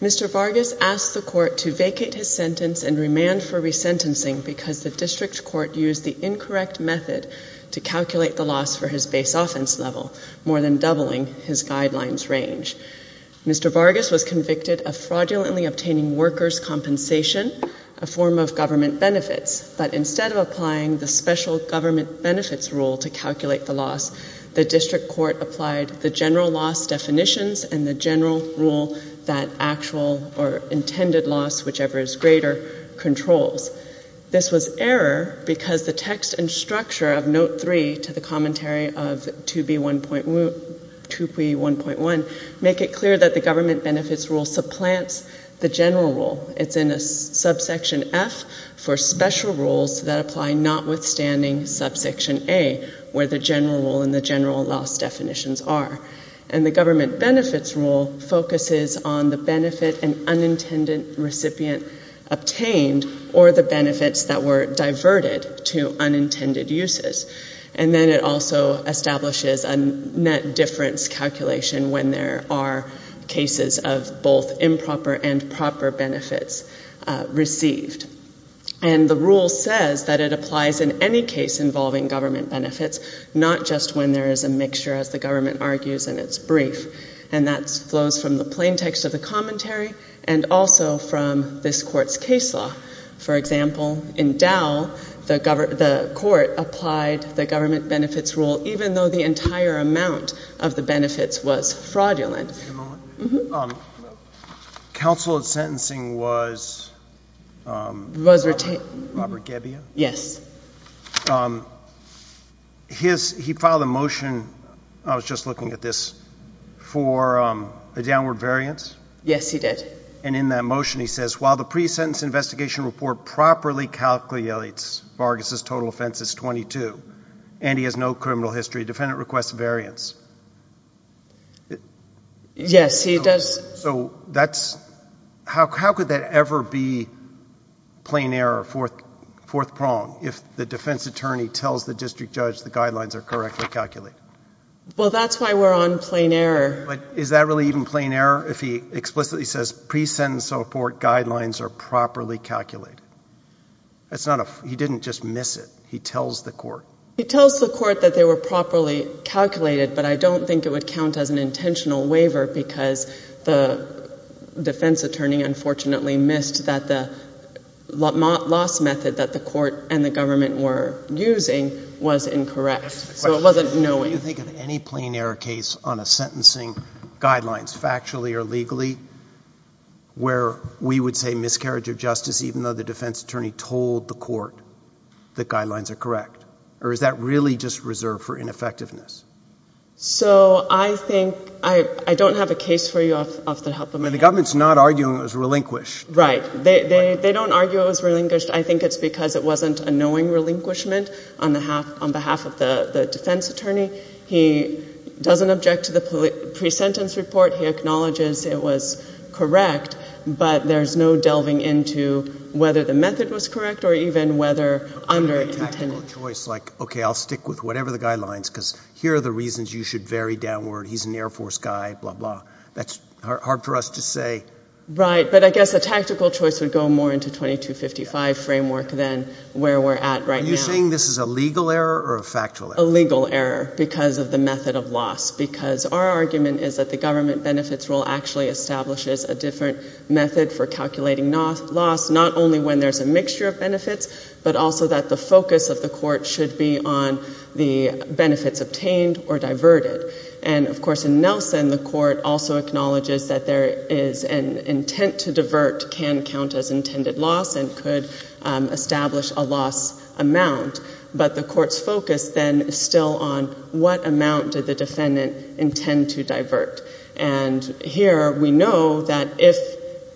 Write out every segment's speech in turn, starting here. Mr. Vargas asked the court to vacate his sentence and remand for resentencing because the district court used the incorrect method to calculate the loss for his base offense level, more than doubling his guidelines range. Mr. Vargas was convicted of fraudulently obtaining workers' compensation, a form of government benefits, but instead of applying the special government benefits rule to calculate the loss, the district court applied the general loss definitions and the general rule that actual or intended loss, whichever is greater, controls. This was error because the text and structure of note three to the commentary of 2B1.1 make it clear that the government benefits rule supplants the general rule. It's in a subsection F for special rules that apply notwithstanding subsection A, where the general rule and the general loss definitions are. And the government benefits rule focuses on the benefit an unintended recipient obtained or the benefits that were diverted to unintended uses. And then it also establishes a net difference calculation when there are cases of both improper and proper benefits received. And the rule says that it applies in any case involving government benefits, not just when there is a mixture, as the government argues in its brief. And that flows from the plain text of the commentary and also from this Court's case law. For example, in Dow, the Court applied the government benefits rule even though the entire amount of the benefits was fraudulent. Counsel at sentencing was Robert Gebbia? Yes. He filed a motion, I was just looking at this, for a downward variance? Yes, he did. And in that motion he says while the pre-sentence investigation report properly calculates Vargas's total offense is 22 and he has no criminal history, defendant requests variance? Yes, he does. So that's... how could that ever be plain error, fourth prong, if the defense attorney tells the district judge the guidelines are correctly calculated? Well, that's why we're on plain error. But is that really even plain error if he explicitly says pre-sentence report guidelines are properly calculated? It's not a... he didn't just miss it. He tells the court. He tells the court that they were properly calculated, but I don't think it would count as an intentional waiver because the defense attorney unfortunately missed that the loss method that the court and the government were using was incorrect. So it wasn't knowing. Do you think of any plain error case on a sentencing guidelines, factually or legally, where we would say miscarriage of justice even though the defense attorney told the court the really just reserved for ineffectiveness? So I think... I don't have a case for you off the top of my head. The government's not arguing it was relinquished. Right. They don't argue it was relinquished. I think it's because it wasn't a knowing relinquishment on behalf of the defense attorney. He doesn't object to the pre-sentence report. He acknowledges it was correct, but there's no delving into whether the method was correct or even whether... A tactical choice like, okay, I'll stick with whatever the guidelines because here are the reasons you should vary downward. He's an Air Force guy, blah blah. That's hard for us to say. Right, but I guess a tactical choice would go more into 2255 framework than where we're at right now. Are you saying this is a legal error or a factual error? A legal error because of the method of loss because our argument is that the government benefits rule actually establishes a different method for calculating loss, not only when there's a mixture of benefits, but also that the focus of the court should be on the benefits obtained or diverted. And of course in Nelson, the court also acknowledges that there is an intent to divert can count as intended loss and could establish a loss amount, but the court's focus then is still on what amount did the defendant intend to divert. And here we know that if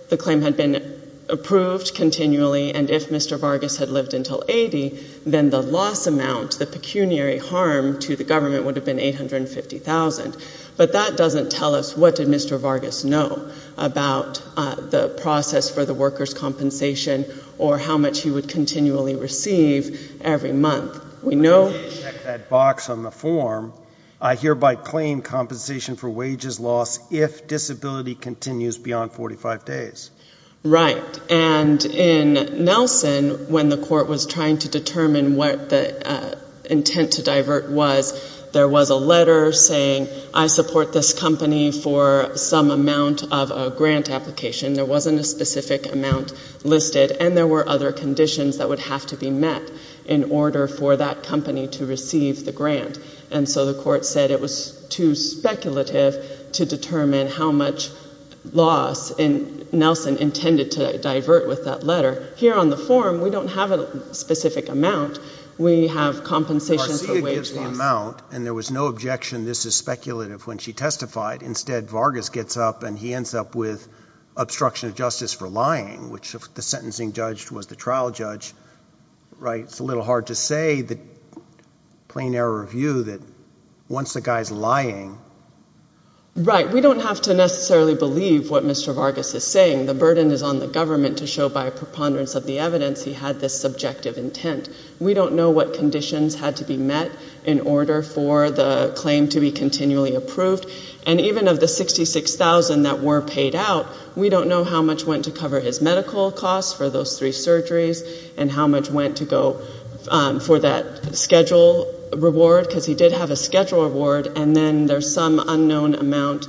the claim had been approved continually and if Mr. Vargas had lived until 80, then the loss amount, the pecuniary harm to the government would have been $850,000. But that doesn't tell us what did Mr. Vargas know about the process for the workers' compensation or how much he would continually receive every month. We know... I did check that box on the form. I hereby claim compensation for wages loss if disability continues beyond 45 days. Right. And in Nelson, when the court was trying to determine what the intent to divert was, there was a letter saying I support this company for some amount of a grant application. There wasn't a specific amount listed and there were other conditions that would have to be met in order for that company to receive the grant. And so the court said it was too speculative to determine how much loss Nelson intended to divert with that letter. Here on the form, we don't have a specific amount. We have compensation for wages loss. Garcia gives the amount and there was no objection this is speculative when she testified. Instead, Vargas gets up and he ends up with obstruction of justice for lying, which if the sentencing judge was the trial judge, right, it's a little hard to say, plain error of view, that once a guy's lying... Right. We don't have to necessarily believe what Mr. Vargas is saying. The burden is on the government to show by preponderance of the evidence he had this subjective intent. We don't know what conditions had to be met in order for the claim to be continually approved and even of the 66,000 that were paid out, we don't know how much went to cover his medical costs for those three surgeries and how much went to go for that schedule reward because he did have a schedule reward and then there's some unknown amount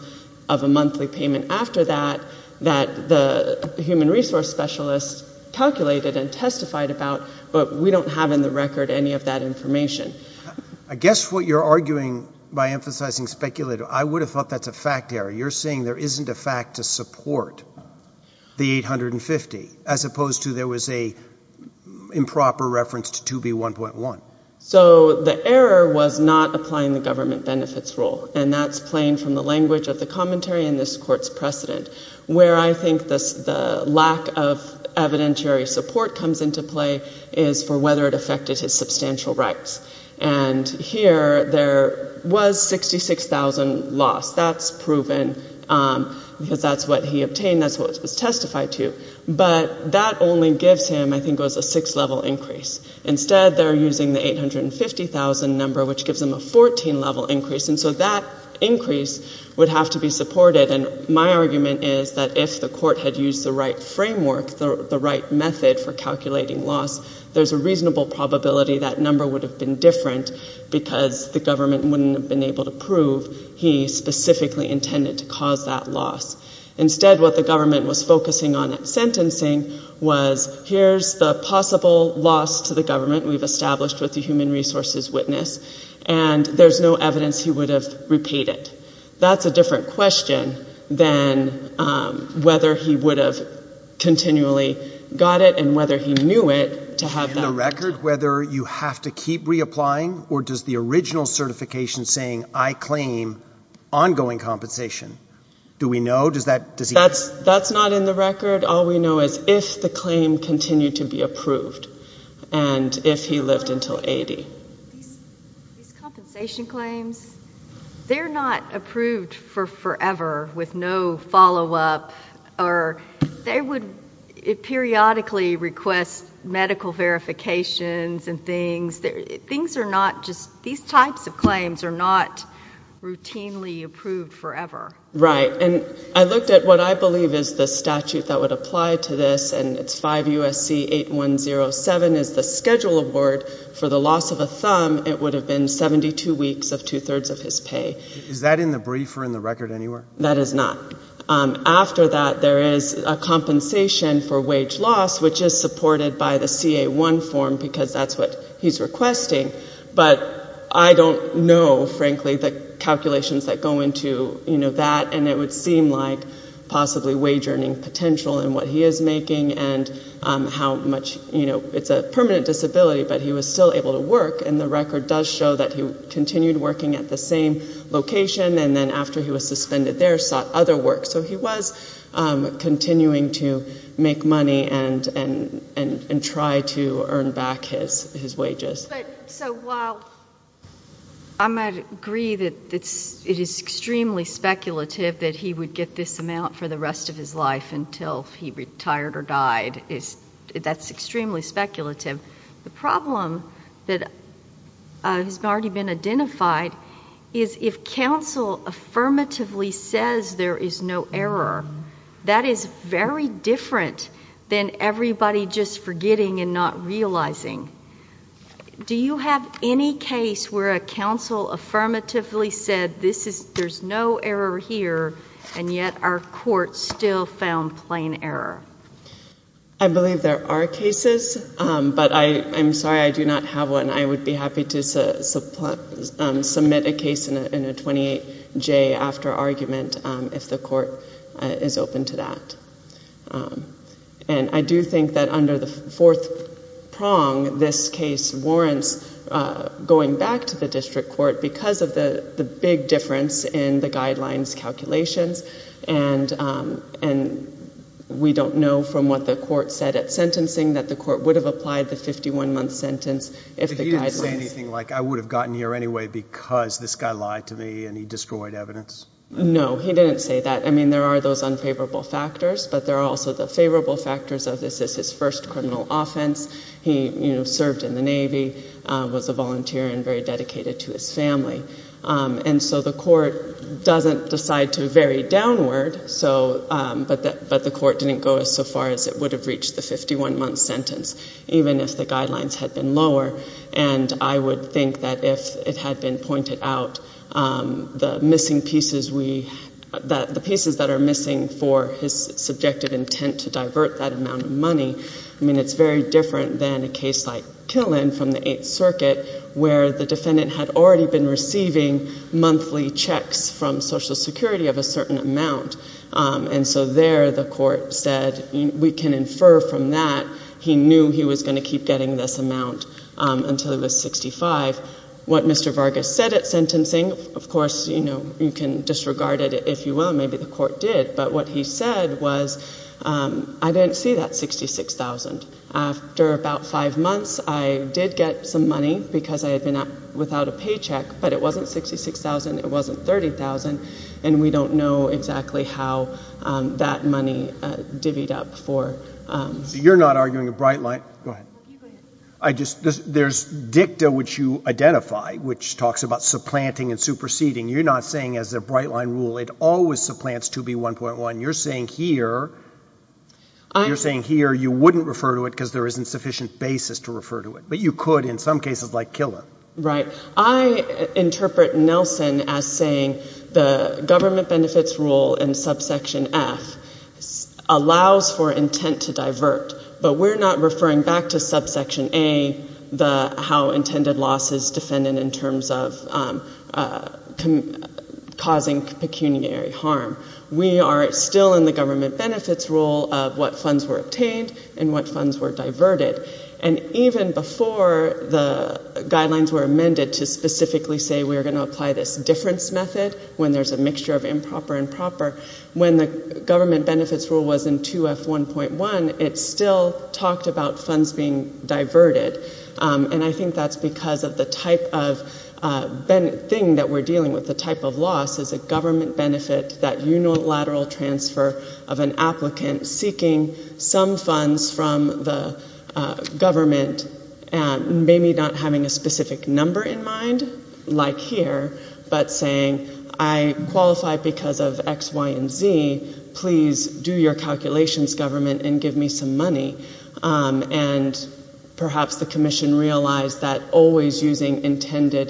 of a monthly payment after that that the human resource specialist calculated and testified about, but we don't have in the record any of that information. I guess what you're arguing by emphasizing speculative, I would have thought that's a fact error. You're saying there isn't a reference to 2B1.1. So the error was not applying the government benefits rule and that's playing from the language of the commentary in this court's precedent. Where I think the lack of evidentiary support comes into play is for whether it affected his substantial rights. And here there was 66,000 lost. That's proven because that's what happened. That's what he obtained. That's what was testified to. But that only gives him, I think, a 6-level increase. Instead they're using the 850,000 number which gives him a 14-level increase. And so that increase would have to be supported. And my argument is that if the court had used the right framework, the right method for calculating loss, there's a reasonable probability that number would have been different because the government wouldn't have been able to prove he specifically intended to cause that loss. Instead what the government was focusing on at sentencing was here's the possible loss to the government we've established with the human resources witness and there's no evidence he would have repaid it. That's a different question than whether he would have continually got it and whether he knew it to have that. That's not in the record. All we know is if the claim continued to be approved and if he lived until 80. These compensation claims, they're not approved for forever with no follow-up. They would periodically request medical verifications and things. These types of claims are not routinely approved forever. Right. And I looked at what I believe is the statute that would apply to this and it's 5 U.S.C. 8107 is the schedule award for the loss of a thumb. It would have been 72 weeks of two-thirds of his pay. Is that in the brief or in the record anywhere? That is not. After that, there is a compensation for wage loss, which is supported by the CA-1 form because that's what he's requesting. But I don't know, frankly, the calculations that go into that and it would seem like possibly wage earning potential in what he is making and how much, you know, it's a permanent disability, but he was still able to work and the record does show that he continued working at the same location and then after he was suspended there. So he was continuing to make money and try to earn back his wages. I might agree that it is extremely speculative that he would get this amount for the rest of his life until he retired or died. That's extremely speculative. The problem that has already been identified is if counsel affirmatively says there is no error, that is very different than everybody just forgetting and not realizing. Do you have any case where a counsel affirmatively said there's no error here and yet our court still found plain error? I believe there are cases, but I'm sorry I do not have one. I would be happy to submit a case in a 28-J after argument if the court is open to that. And I do think that under the fourth prong, this case warrants going back to the district court because of the big difference in the guidelines calculations and we don't know from what the court said at sentencing that the court would have applied the 51-month sentence if the guidelines... He didn't say anything like I would have gotten here anyway because this guy lied to me and he destroyed evidence? No, he didn't say that. I mean there are those unfavorable factors, but there are also the favorable factors of this is his first criminal offense. He served in the Navy, was a volunteer and very dedicated to his family. And so the court doesn't decide to vary downward, but the court didn't go as far as it would have reached the 51-month sentence, even if the guidelines had been lower. And I would think that if it had been pointed out, the missing pieces we... the pieces that are missing for his subjective intent to divert that amount of money. I mean it's very different than a case like Killen from the Eighth Circuit where the defendant had already been receiving monthly checks from Social Security of a certain amount. And so there the court said we can infer from that he knew he was going to keep getting this amount until he was 65. What Mr. Vargas said at sentencing, of course you can disregard it if you will, maybe the court did, but what he said was I didn't see that 66,000. After about five months, I did get some money because I had been without a paycheck, but it wasn't 66,000, it wasn't 30,000, and we don't know exactly how that money divvied up for... So you're not arguing a bright line... go ahead. I just... there's dicta which you identify, which talks about supplanting and superseding. You're not saying as a bright line rule it always supplants 2B1.1. You're saying here... you're saying here you wouldn't refer to it because there isn't sufficient basis to refer to it. But you could in some cases like Killen. Right. I interpret Nelson as saying the government benefits rule in subsection F allows for intent to divert. But we're not referring back to subsection A, the how intended loss is defended in terms of causing pecuniary harm. We are still in the government benefits rule of what funds were obtained and what funds were diverted. And even before the guidelines were amended to specifically say we're going to apply this difference method when there's a mixture of improper and proper... When the government benefits rule was in 2F1.1, it still talked about funds being diverted. And I think that's because of the type of thing that we're dealing with. The type of loss is a government benefit, that unilateral transfer of an applicant seeking some funds from the government, maybe not having a specific number in mind like here, but saying I qualify because of X, Y, and Z. Please do your calculations, government, and give me some money. And perhaps the commission realized that always using intended...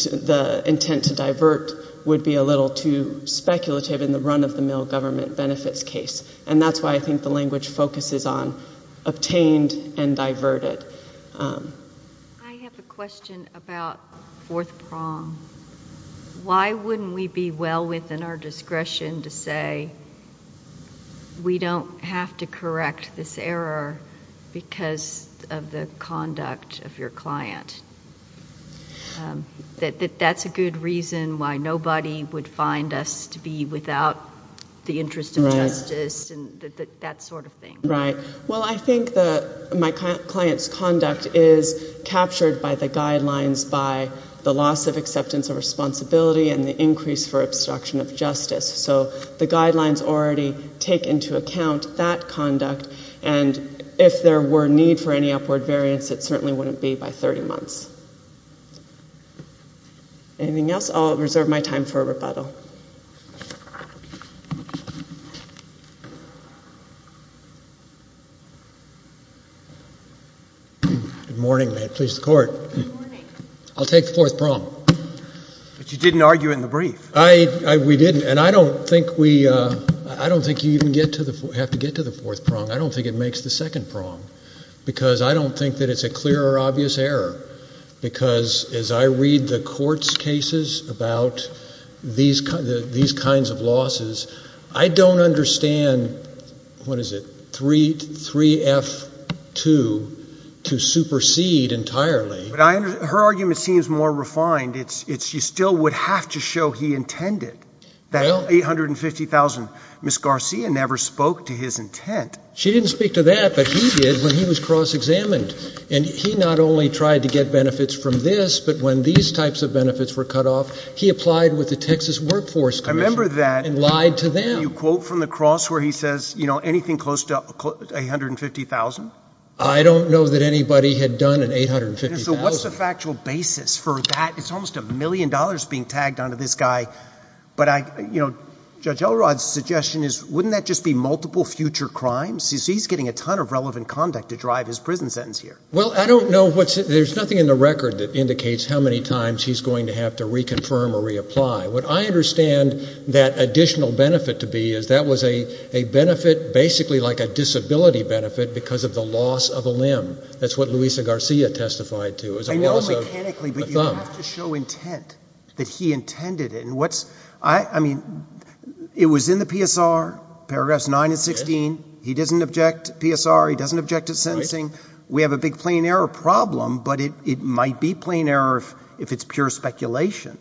the intent to divert would be a little too speculative in the run-of-the-mill government benefits case. And that's why I think the language focuses on obtained and diverted. I have a question about fourth prong. Why wouldn't we be well within our discretion to say we don't have to correct this error because of the conduct of your client? That that's a good reason why nobody would find us to be without the interest of justice and that sort of thing. Right. Well, I think my client's conduct is captured by the guidelines by the loss of acceptance of responsibility and the increase for obstruction of justice. So the guidelines already take into account that conduct. And if there were need for any upward variance, it certainly wouldn't be by 30 months. Anything else? I'll reserve my time for rebuttal. Good morning. May it please the Court. Good morning. I'll take the fourth prong. But you didn't argue in the brief. We didn't. And I don't think you even have to get to the fourth prong. I don't think it makes the second prong because I don't think that it's a clear or obvious error. Because as I read the court's cases about these kinds of losses, I don't understand, what is it, 3F2 to supersede entirely. Her argument seems more refined. You still would have to show he intended that $850,000. Ms. Garcia never spoke to his intent. She didn't speak to that, but he did when he was cross-examined. And he not only tried to get benefits from this, but when these types of benefits were cut off, he applied with the Texas Workforce Commission. I remember that. And lied to them. Can you quote from the cross where he says, you know, anything close to $850,000? I don't know that anybody had done an $850,000. So what's the factual basis for that? It's almost a million dollars being tagged onto this guy. But I, you know, Judge Elrod's suggestion is wouldn't that just be multiple future crimes? He's getting a ton of relevant conduct to drive his prison sentence here. Well, I don't know what's, there's nothing in the record that indicates how many times he's going to have to reconfirm or reapply. What I understand that additional benefit to be is that was a benefit basically like a disability benefit because of the loss of a limb. That's what Luisa Garcia testified to. I know mechanically, but you have to show intent that he intended it. And what's, I mean, it was in the PSR, paragraphs 9 and 16. He doesn't object to PSR. He doesn't object to sentencing. We have a big plain error problem, but it might be plain error if it's pure speculation.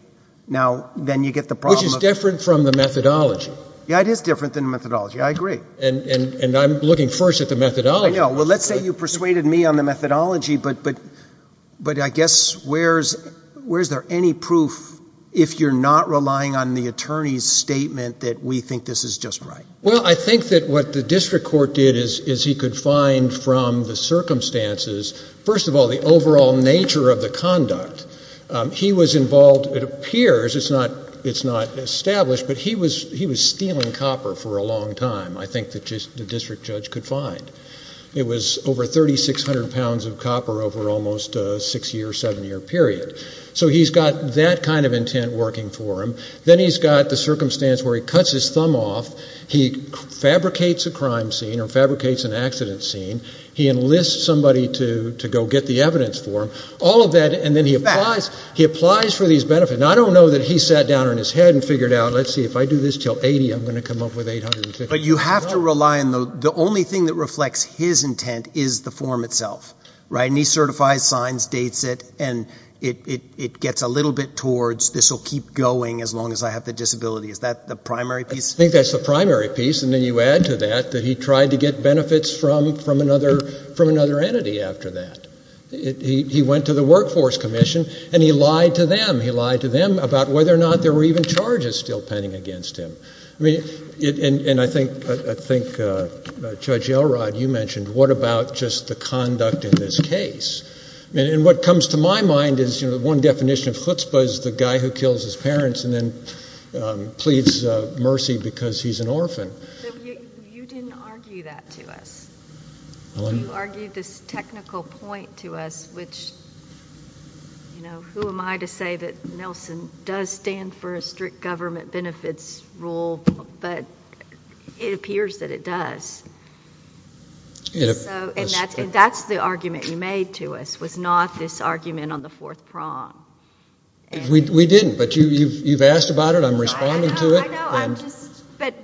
Now, then you get the problem. Which is different from the methodology. Yeah, it is different than the methodology. I agree. And I'm looking first at the methodology. Well, let's say you persuaded me on the methodology, but I guess where is there any proof if you're not relying on the attorney's statement that we think this is just right? Well, I think that what the district court did is he could find from the circumstances, first of all, the overall nature of the conduct. He was involved, it appears, it's not established, but he was stealing copper for a long time. I think the district judge could find. It was over 3,600 pounds of copper over almost a six-year, seven-year period. So he's got that kind of intent working for him. Then he's got the circumstance where he cuts his thumb off. He fabricates a crime scene or fabricates an accident scene. He enlists somebody to go get the evidence for him. All of that, and then he applies for these benefits. Now, I don't know that he sat down on his head and figured out, let's see, if I do this until 80, I'm going to come up with 850. But you have to rely on the only thing that reflects his intent is the form itself, right? And he certifies, signs, dates it, and it gets a little bit towards this will keep going as long as I have the disability. Is that the primary piece? I think that's the primary piece, and then you add to that that he tried to get benefits from another entity after that. He went to the Workforce Commission, and he lied to them. He lied to them about whether or not there were even charges still pending against him. And I think Judge Elrod, you mentioned, what about just the conduct in this case? And what comes to my mind is the one definition of chutzpah is the guy who kills his parents and then pleads mercy because he's an orphan. You didn't argue that to us. You argued this technical point to us, which, you know, who am I to say that Nelson does stand for a strict government benefits rule, but it appears that it does. And that's the argument you made to us was not this argument on the fourth prong. We didn't, but you've asked about it. I'm responding to it. I know. But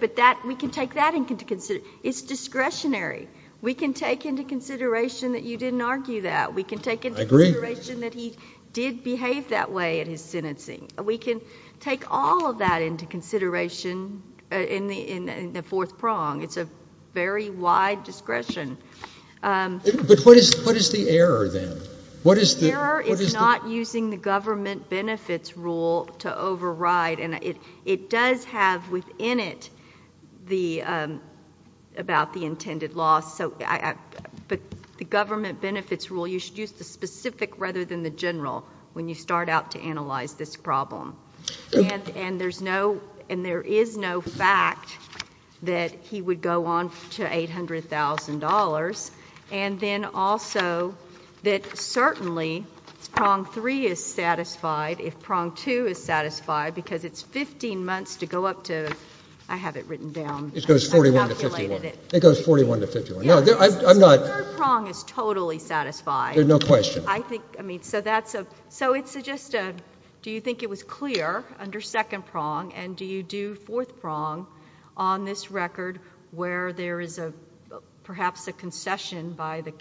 we can take that into consideration. It's discretionary. We can take into consideration that you didn't argue that. We can take into consideration that he did behave that way in his sentencing. We can take all of that into consideration in the fourth prong. It's a very wide discretion. But what is the error then? The error is not using the government benefits rule to override. It does have within it about the intended loss. But the government benefits rule, you should use the specific rather than the general when you start out to analyze this problem. And there is no fact that he would go on to $800,000. And then also that certainly prong three is satisfied if prong two is satisfied because it's 15 months to go up to, I have it written down. It goes 41 to 51. It goes 41 to 51. The third prong is totally satisfied. There's no question. So it's just a, do you think it was clear under second prong, and do you do fourth prong on this record where there is perhaps a concession by the,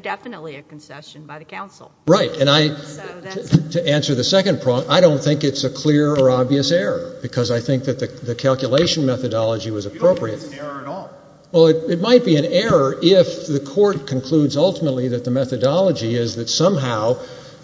definitely a concession by the counsel? Right. And I, to answer the second prong, I don't think it's a clear or obvious error because I think that the calculation methodology was appropriate. You don't think it's an error at all. Well, it might be an error if the court concludes ultimately that the methodology is that somehow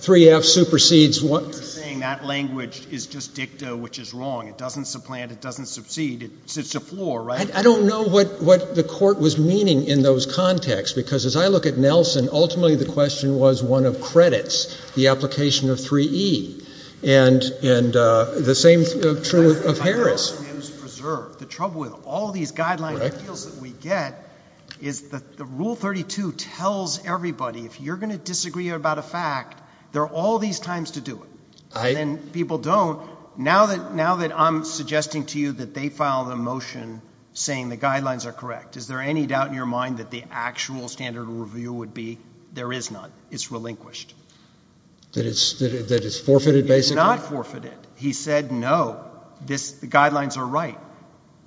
3F supersedes. You're saying that language is just dicta, which is wrong. It doesn't supplant. It doesn't subcede. It's a floor, right? I don't know what the court was meaning in those contexts because as I look at Nelson, ultimately the question was one of credits, the application of 3E, and the same true of Harris. The trouble with all these guidelines that we get is that the rule 32 tells everybody if you're going to disagree about a fact, there are all these times to do it. And then people don't. Now that I'm suggesting to you that they file a motion saying the guidelines are correct, is there any doubt in your mind that the actual standard of review would be there is not? It's relinquished. That it's forfeited basically? It's not forfeited. He said no, the guidelines are right.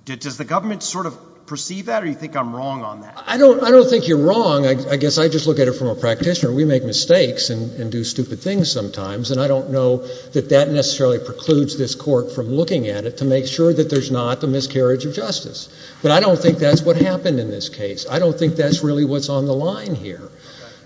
Does the government sort of perceive that or do you think I'm wrong on that? I don't think you're wrong. I guess I just look at it from a practitioner. We make mistakes and do stupid things sometimes, and I don't know that that necessarily precludes this court from looking at it to make sure that there's not a miscarriage of justice. But I don't think that's what happened in this case. I don't think that's really what's on the line here.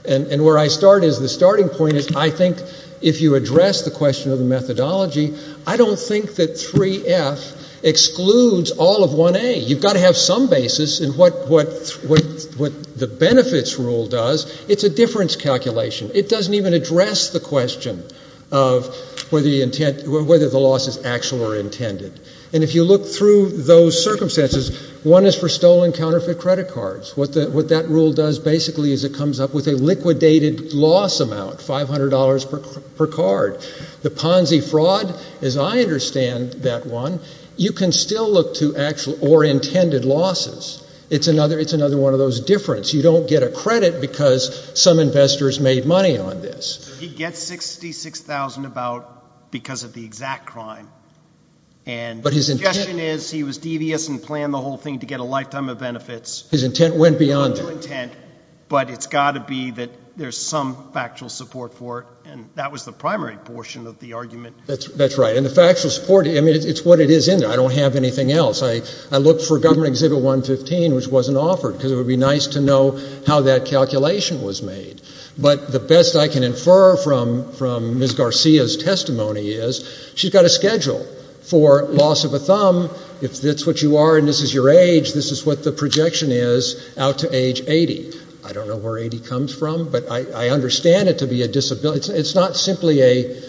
And where I start is the starting point is I think if you address the question of the methodology, I don't think that 3F excludes all of 1A. You've got to have some basis in what the benefits rule does. It's a difference calculation. It doesn't even address the question of whether the loss is actual or intended. And if you look through those circumstances, one is for stolen counterfeit credit cards. What that rule does basically is it comes up with a liquidated loss amount, $500 per card. The Ponzi fraud, as I understand that one, you can still look to actual or intended losses. It's another one of those differences. You don't get a credit because some investors made money on this. He gets $66,000 about because of the exact crime. But his intention is he was devious and planned the whole thing to get a lifetime of benefits. His intent went beyond that. But it's got to be that there's some factual support for it, and that was the primary portion of the argument. That's right. And the factual support, I mean, it's what it is in there. I don't have anything else. I looked for Government Exhibit 115, which wasn't offered, because it would be nice to know how that calculation was made. But the best I can infer from Ms. Garcia's testimony is she's got a schedule for loss of a thumb. If that's what you are and this is your age, this is what the projection is out to age 80. I don't know where 80 comes from, but I understand it to be a disability. It's not simply a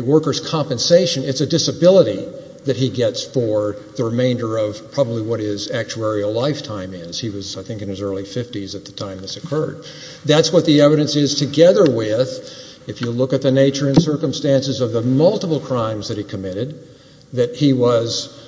worker's compensation. It's a disability that he gets for the remainder of probably what his actuarial lifetime is. He was, I think, in his early 50s at the time this occurred. That's what the evidence is together with, if you look at the nature and circumstances of the multiple crimes that he committed, that he was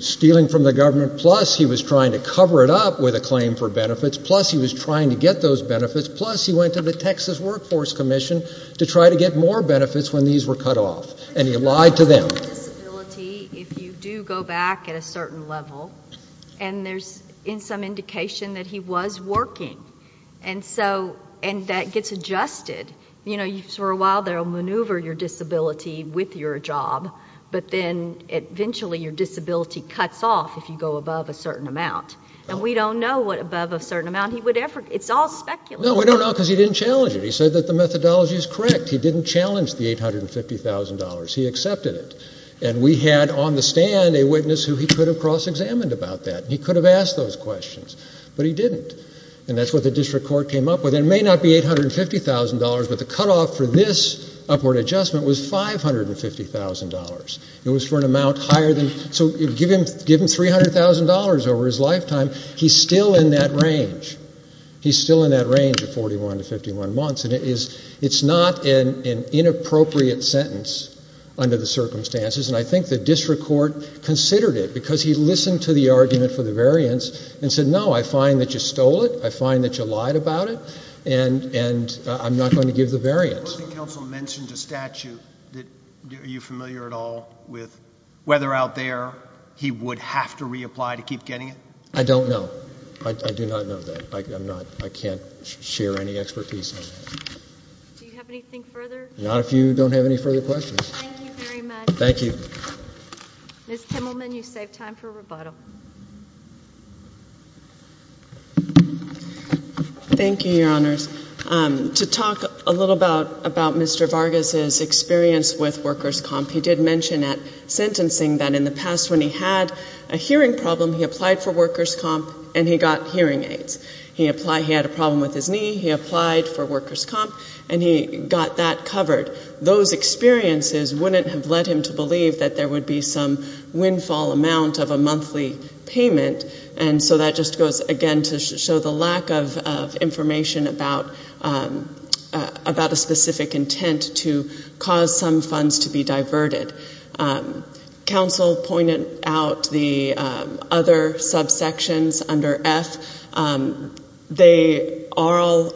stealing from the government, plus he was trying to cover it up with a claim for benefits, plus he was trying to get those benefits, plus he went to the Texas Workforce Commission to try to get more benefits when these were cut off. And he lied to them. It's a disability if you do go back at a certain level, and there's some indication that he was working. And so that gets adjusted. You know, for a while they'll maneuver your disability with your job, but then eventually your disability cuts off if you go above a certain amount. And we don't know what above a certain amount he would ever do. It's all speculative. No, we don't know because he didn't challenge it. He said that the methodology is correct. He didn't challenge the $850,000. He accepted it. And we had on the stand a witness who he could have cross-examined about that. He could have asked those questions, but he didn't. And that's what the district court came up with. It may not be $850,000, but the cutoff for this upward adjustment was $550,000. It was for an amount higher than, so give him $300,000 over his lifetime. He's still in that range. He's still in that range of 41 to 51 months. And it's not an inappropriate sentence under the circumstances, and I think the district court considered it because he listened to the argument for the variance and said, no, I find that you stole it, I find that you lied about it, and I'm not going to give the variance. I believe counsel mentioned a statute. Are you familiar at all with whether out there he would have to reapply to keep getting it? I don't know. I do not know that. I can't share any expertise on that. Do you have anything further? Not if you don't have any further questions. Thank you very much. Thank you. Ms. Kimmelman, you saved time for rebuttal. Thank you, Your Honors. To talk a little about Mr. Vargas's experience with workers' comp, he did mention at sentencing that in the past when he had a hearing problem, he applied for workers' comp and he got hearing aids. He had a problem with his knee. He applied for workers' comp and he got that covered. Those experiences wouldn't have led him to believe that there would be some windfall amount of a monthly payment, and so that just goes, again, to show the lack of information about a specific intent to cause some funds to be diverted. Counsel pointed out the other subsections under F. They are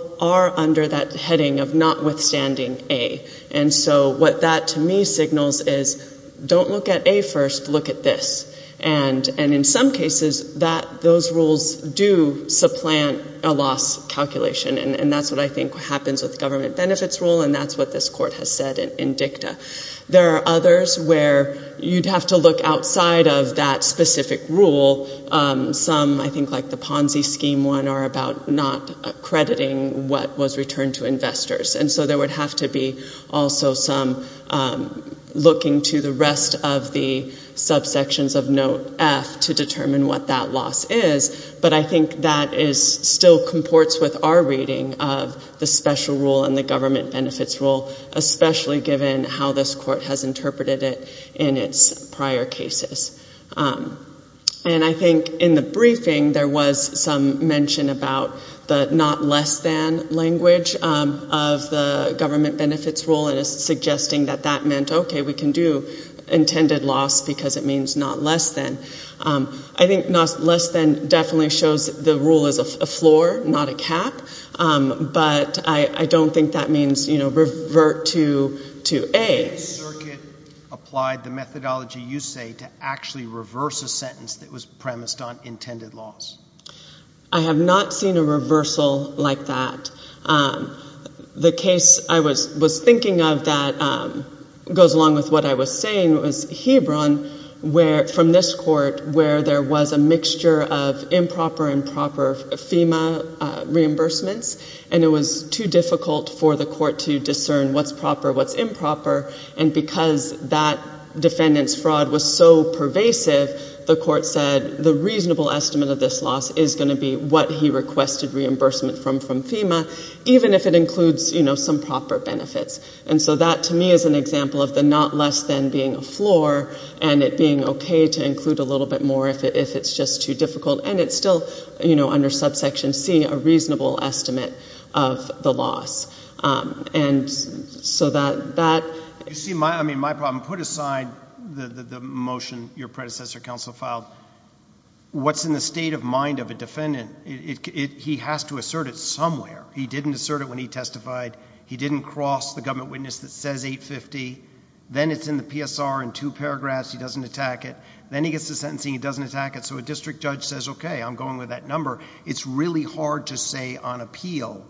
under that heading of notwithstanding A, and so what that to me signals is don't look at A first, look at this. And in some cases, those rules do supplant a loss calculation, and that's what I think happens with government benefits rule, and that's what this court has said in dicta. There are others where you'd have to look outside of that specific rule. Some, I think like the Ponzi scheme one, are about not accrediting what was returned to investors, and so there would have to be also some looking to the rest of the subsections of note F to determine what that loss is, but I think that still comports with our reading of the special rule and the government benefits rule, especially given how this court has interpreted it in its prior cases. And I think in the briefing there was some mention about the not less than language of the government benefits rule and it's suggesting that that meant, okay, we can do intended loss because it means not less than. I think less than definitely shows the rule is a floor, not a cap, but I don't think that means revert to A. Did the circuit apply the methodology you say to actually reverse a sentence that was premised on intended loss? I have not seen a reversal like that. The case I was thinking of that goes along with what I was saying was Hebron from this court where there was a mixture of improper and proper FEMA reimbursements, and it was too difficult for the court to discern what's proper, what's improper, and because that defendant's fraud was so pervasive, the court said the reasonable estimate of this loss is going to be what he requested reimbursement from FEMA, even if it includes some proper benefits. And so that to me is an example of the not less than being a floor and it being okay to include a little bit more if it's just too difficult. And it's still, you know, under subsection C, a reasonable estimate of the loss. And so that— You see, I mean, my problem, put aside the motion your predecessor counsel filed, what's in the state of mind of a defendant? He has to assert it somewhere. He didn't assert it when he testified. He didn't cross the government witness that says 850. Then it's in the PSR in two paragraphs. He doesn't attack it. Then he gets to sentencing. He doesn't attack it. So a district judge says, okay, I'm going with that number. It's really hard to say on appeal,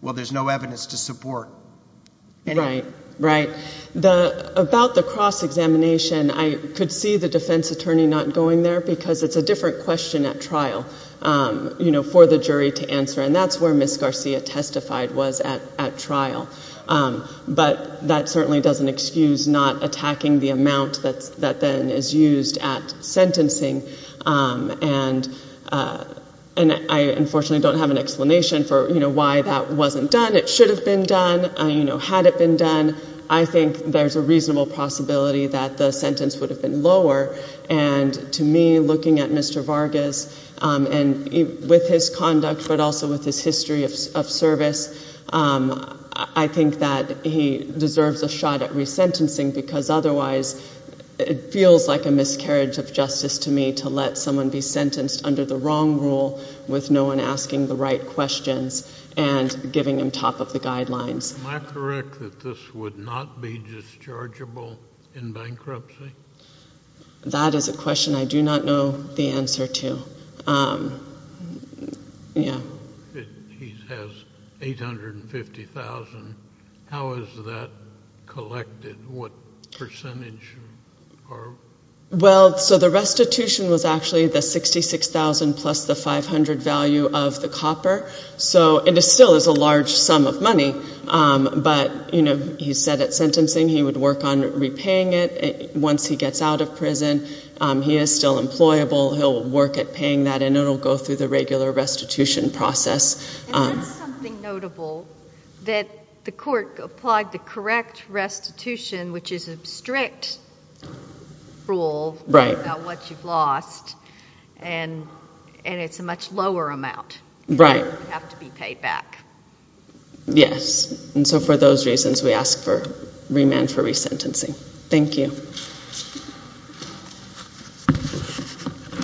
well, there's no evidence to support. Right, right. About the cross-examination, I could see the defense attorney not going there because it's a different question at trial, you know, for the jury to answer, and that's where Ms. Garcia testified was at trial. But that certainly doesn't excuse not attacking the amount that then is used at sentencing. And I unfortunately don't have an explanation for, you know, why that wasn't done. It should have been done. You know, had it been done, I think there's a reasonable possibility that the sentence would have been lower. And to me, looking at Mr. Vargas and with his conduct but also with his history of service, I think that he deserves a shot at resentencing because otherwise it feels like a miscarriage of justice to me to let someone be sentenced under the wrong rule with no one asking the right questions and giving him top of the guidelines. Am I correct that this would not be dischargeable in bankruptcy? That is a question I do not know the answer to. Yeah. He has $850,000. How is that collected? What percentage? Well, so the restitution was actually the $66,000 plus the $500,000 value of the copper. So it still is a large sum of money. But, you know, he said at sentencing he would work on repaying it once he gets out of prison. He is still employable. He'll work at paying that, and it will go through the regular restitution process. And that's something notable, that the court applied the correct restitution, which is a strict rule about what you've lost, and it's a much lower amount. Right. You have to be paid back. Yes. And so for those reasons we ask for remand for resentencing. Thank you.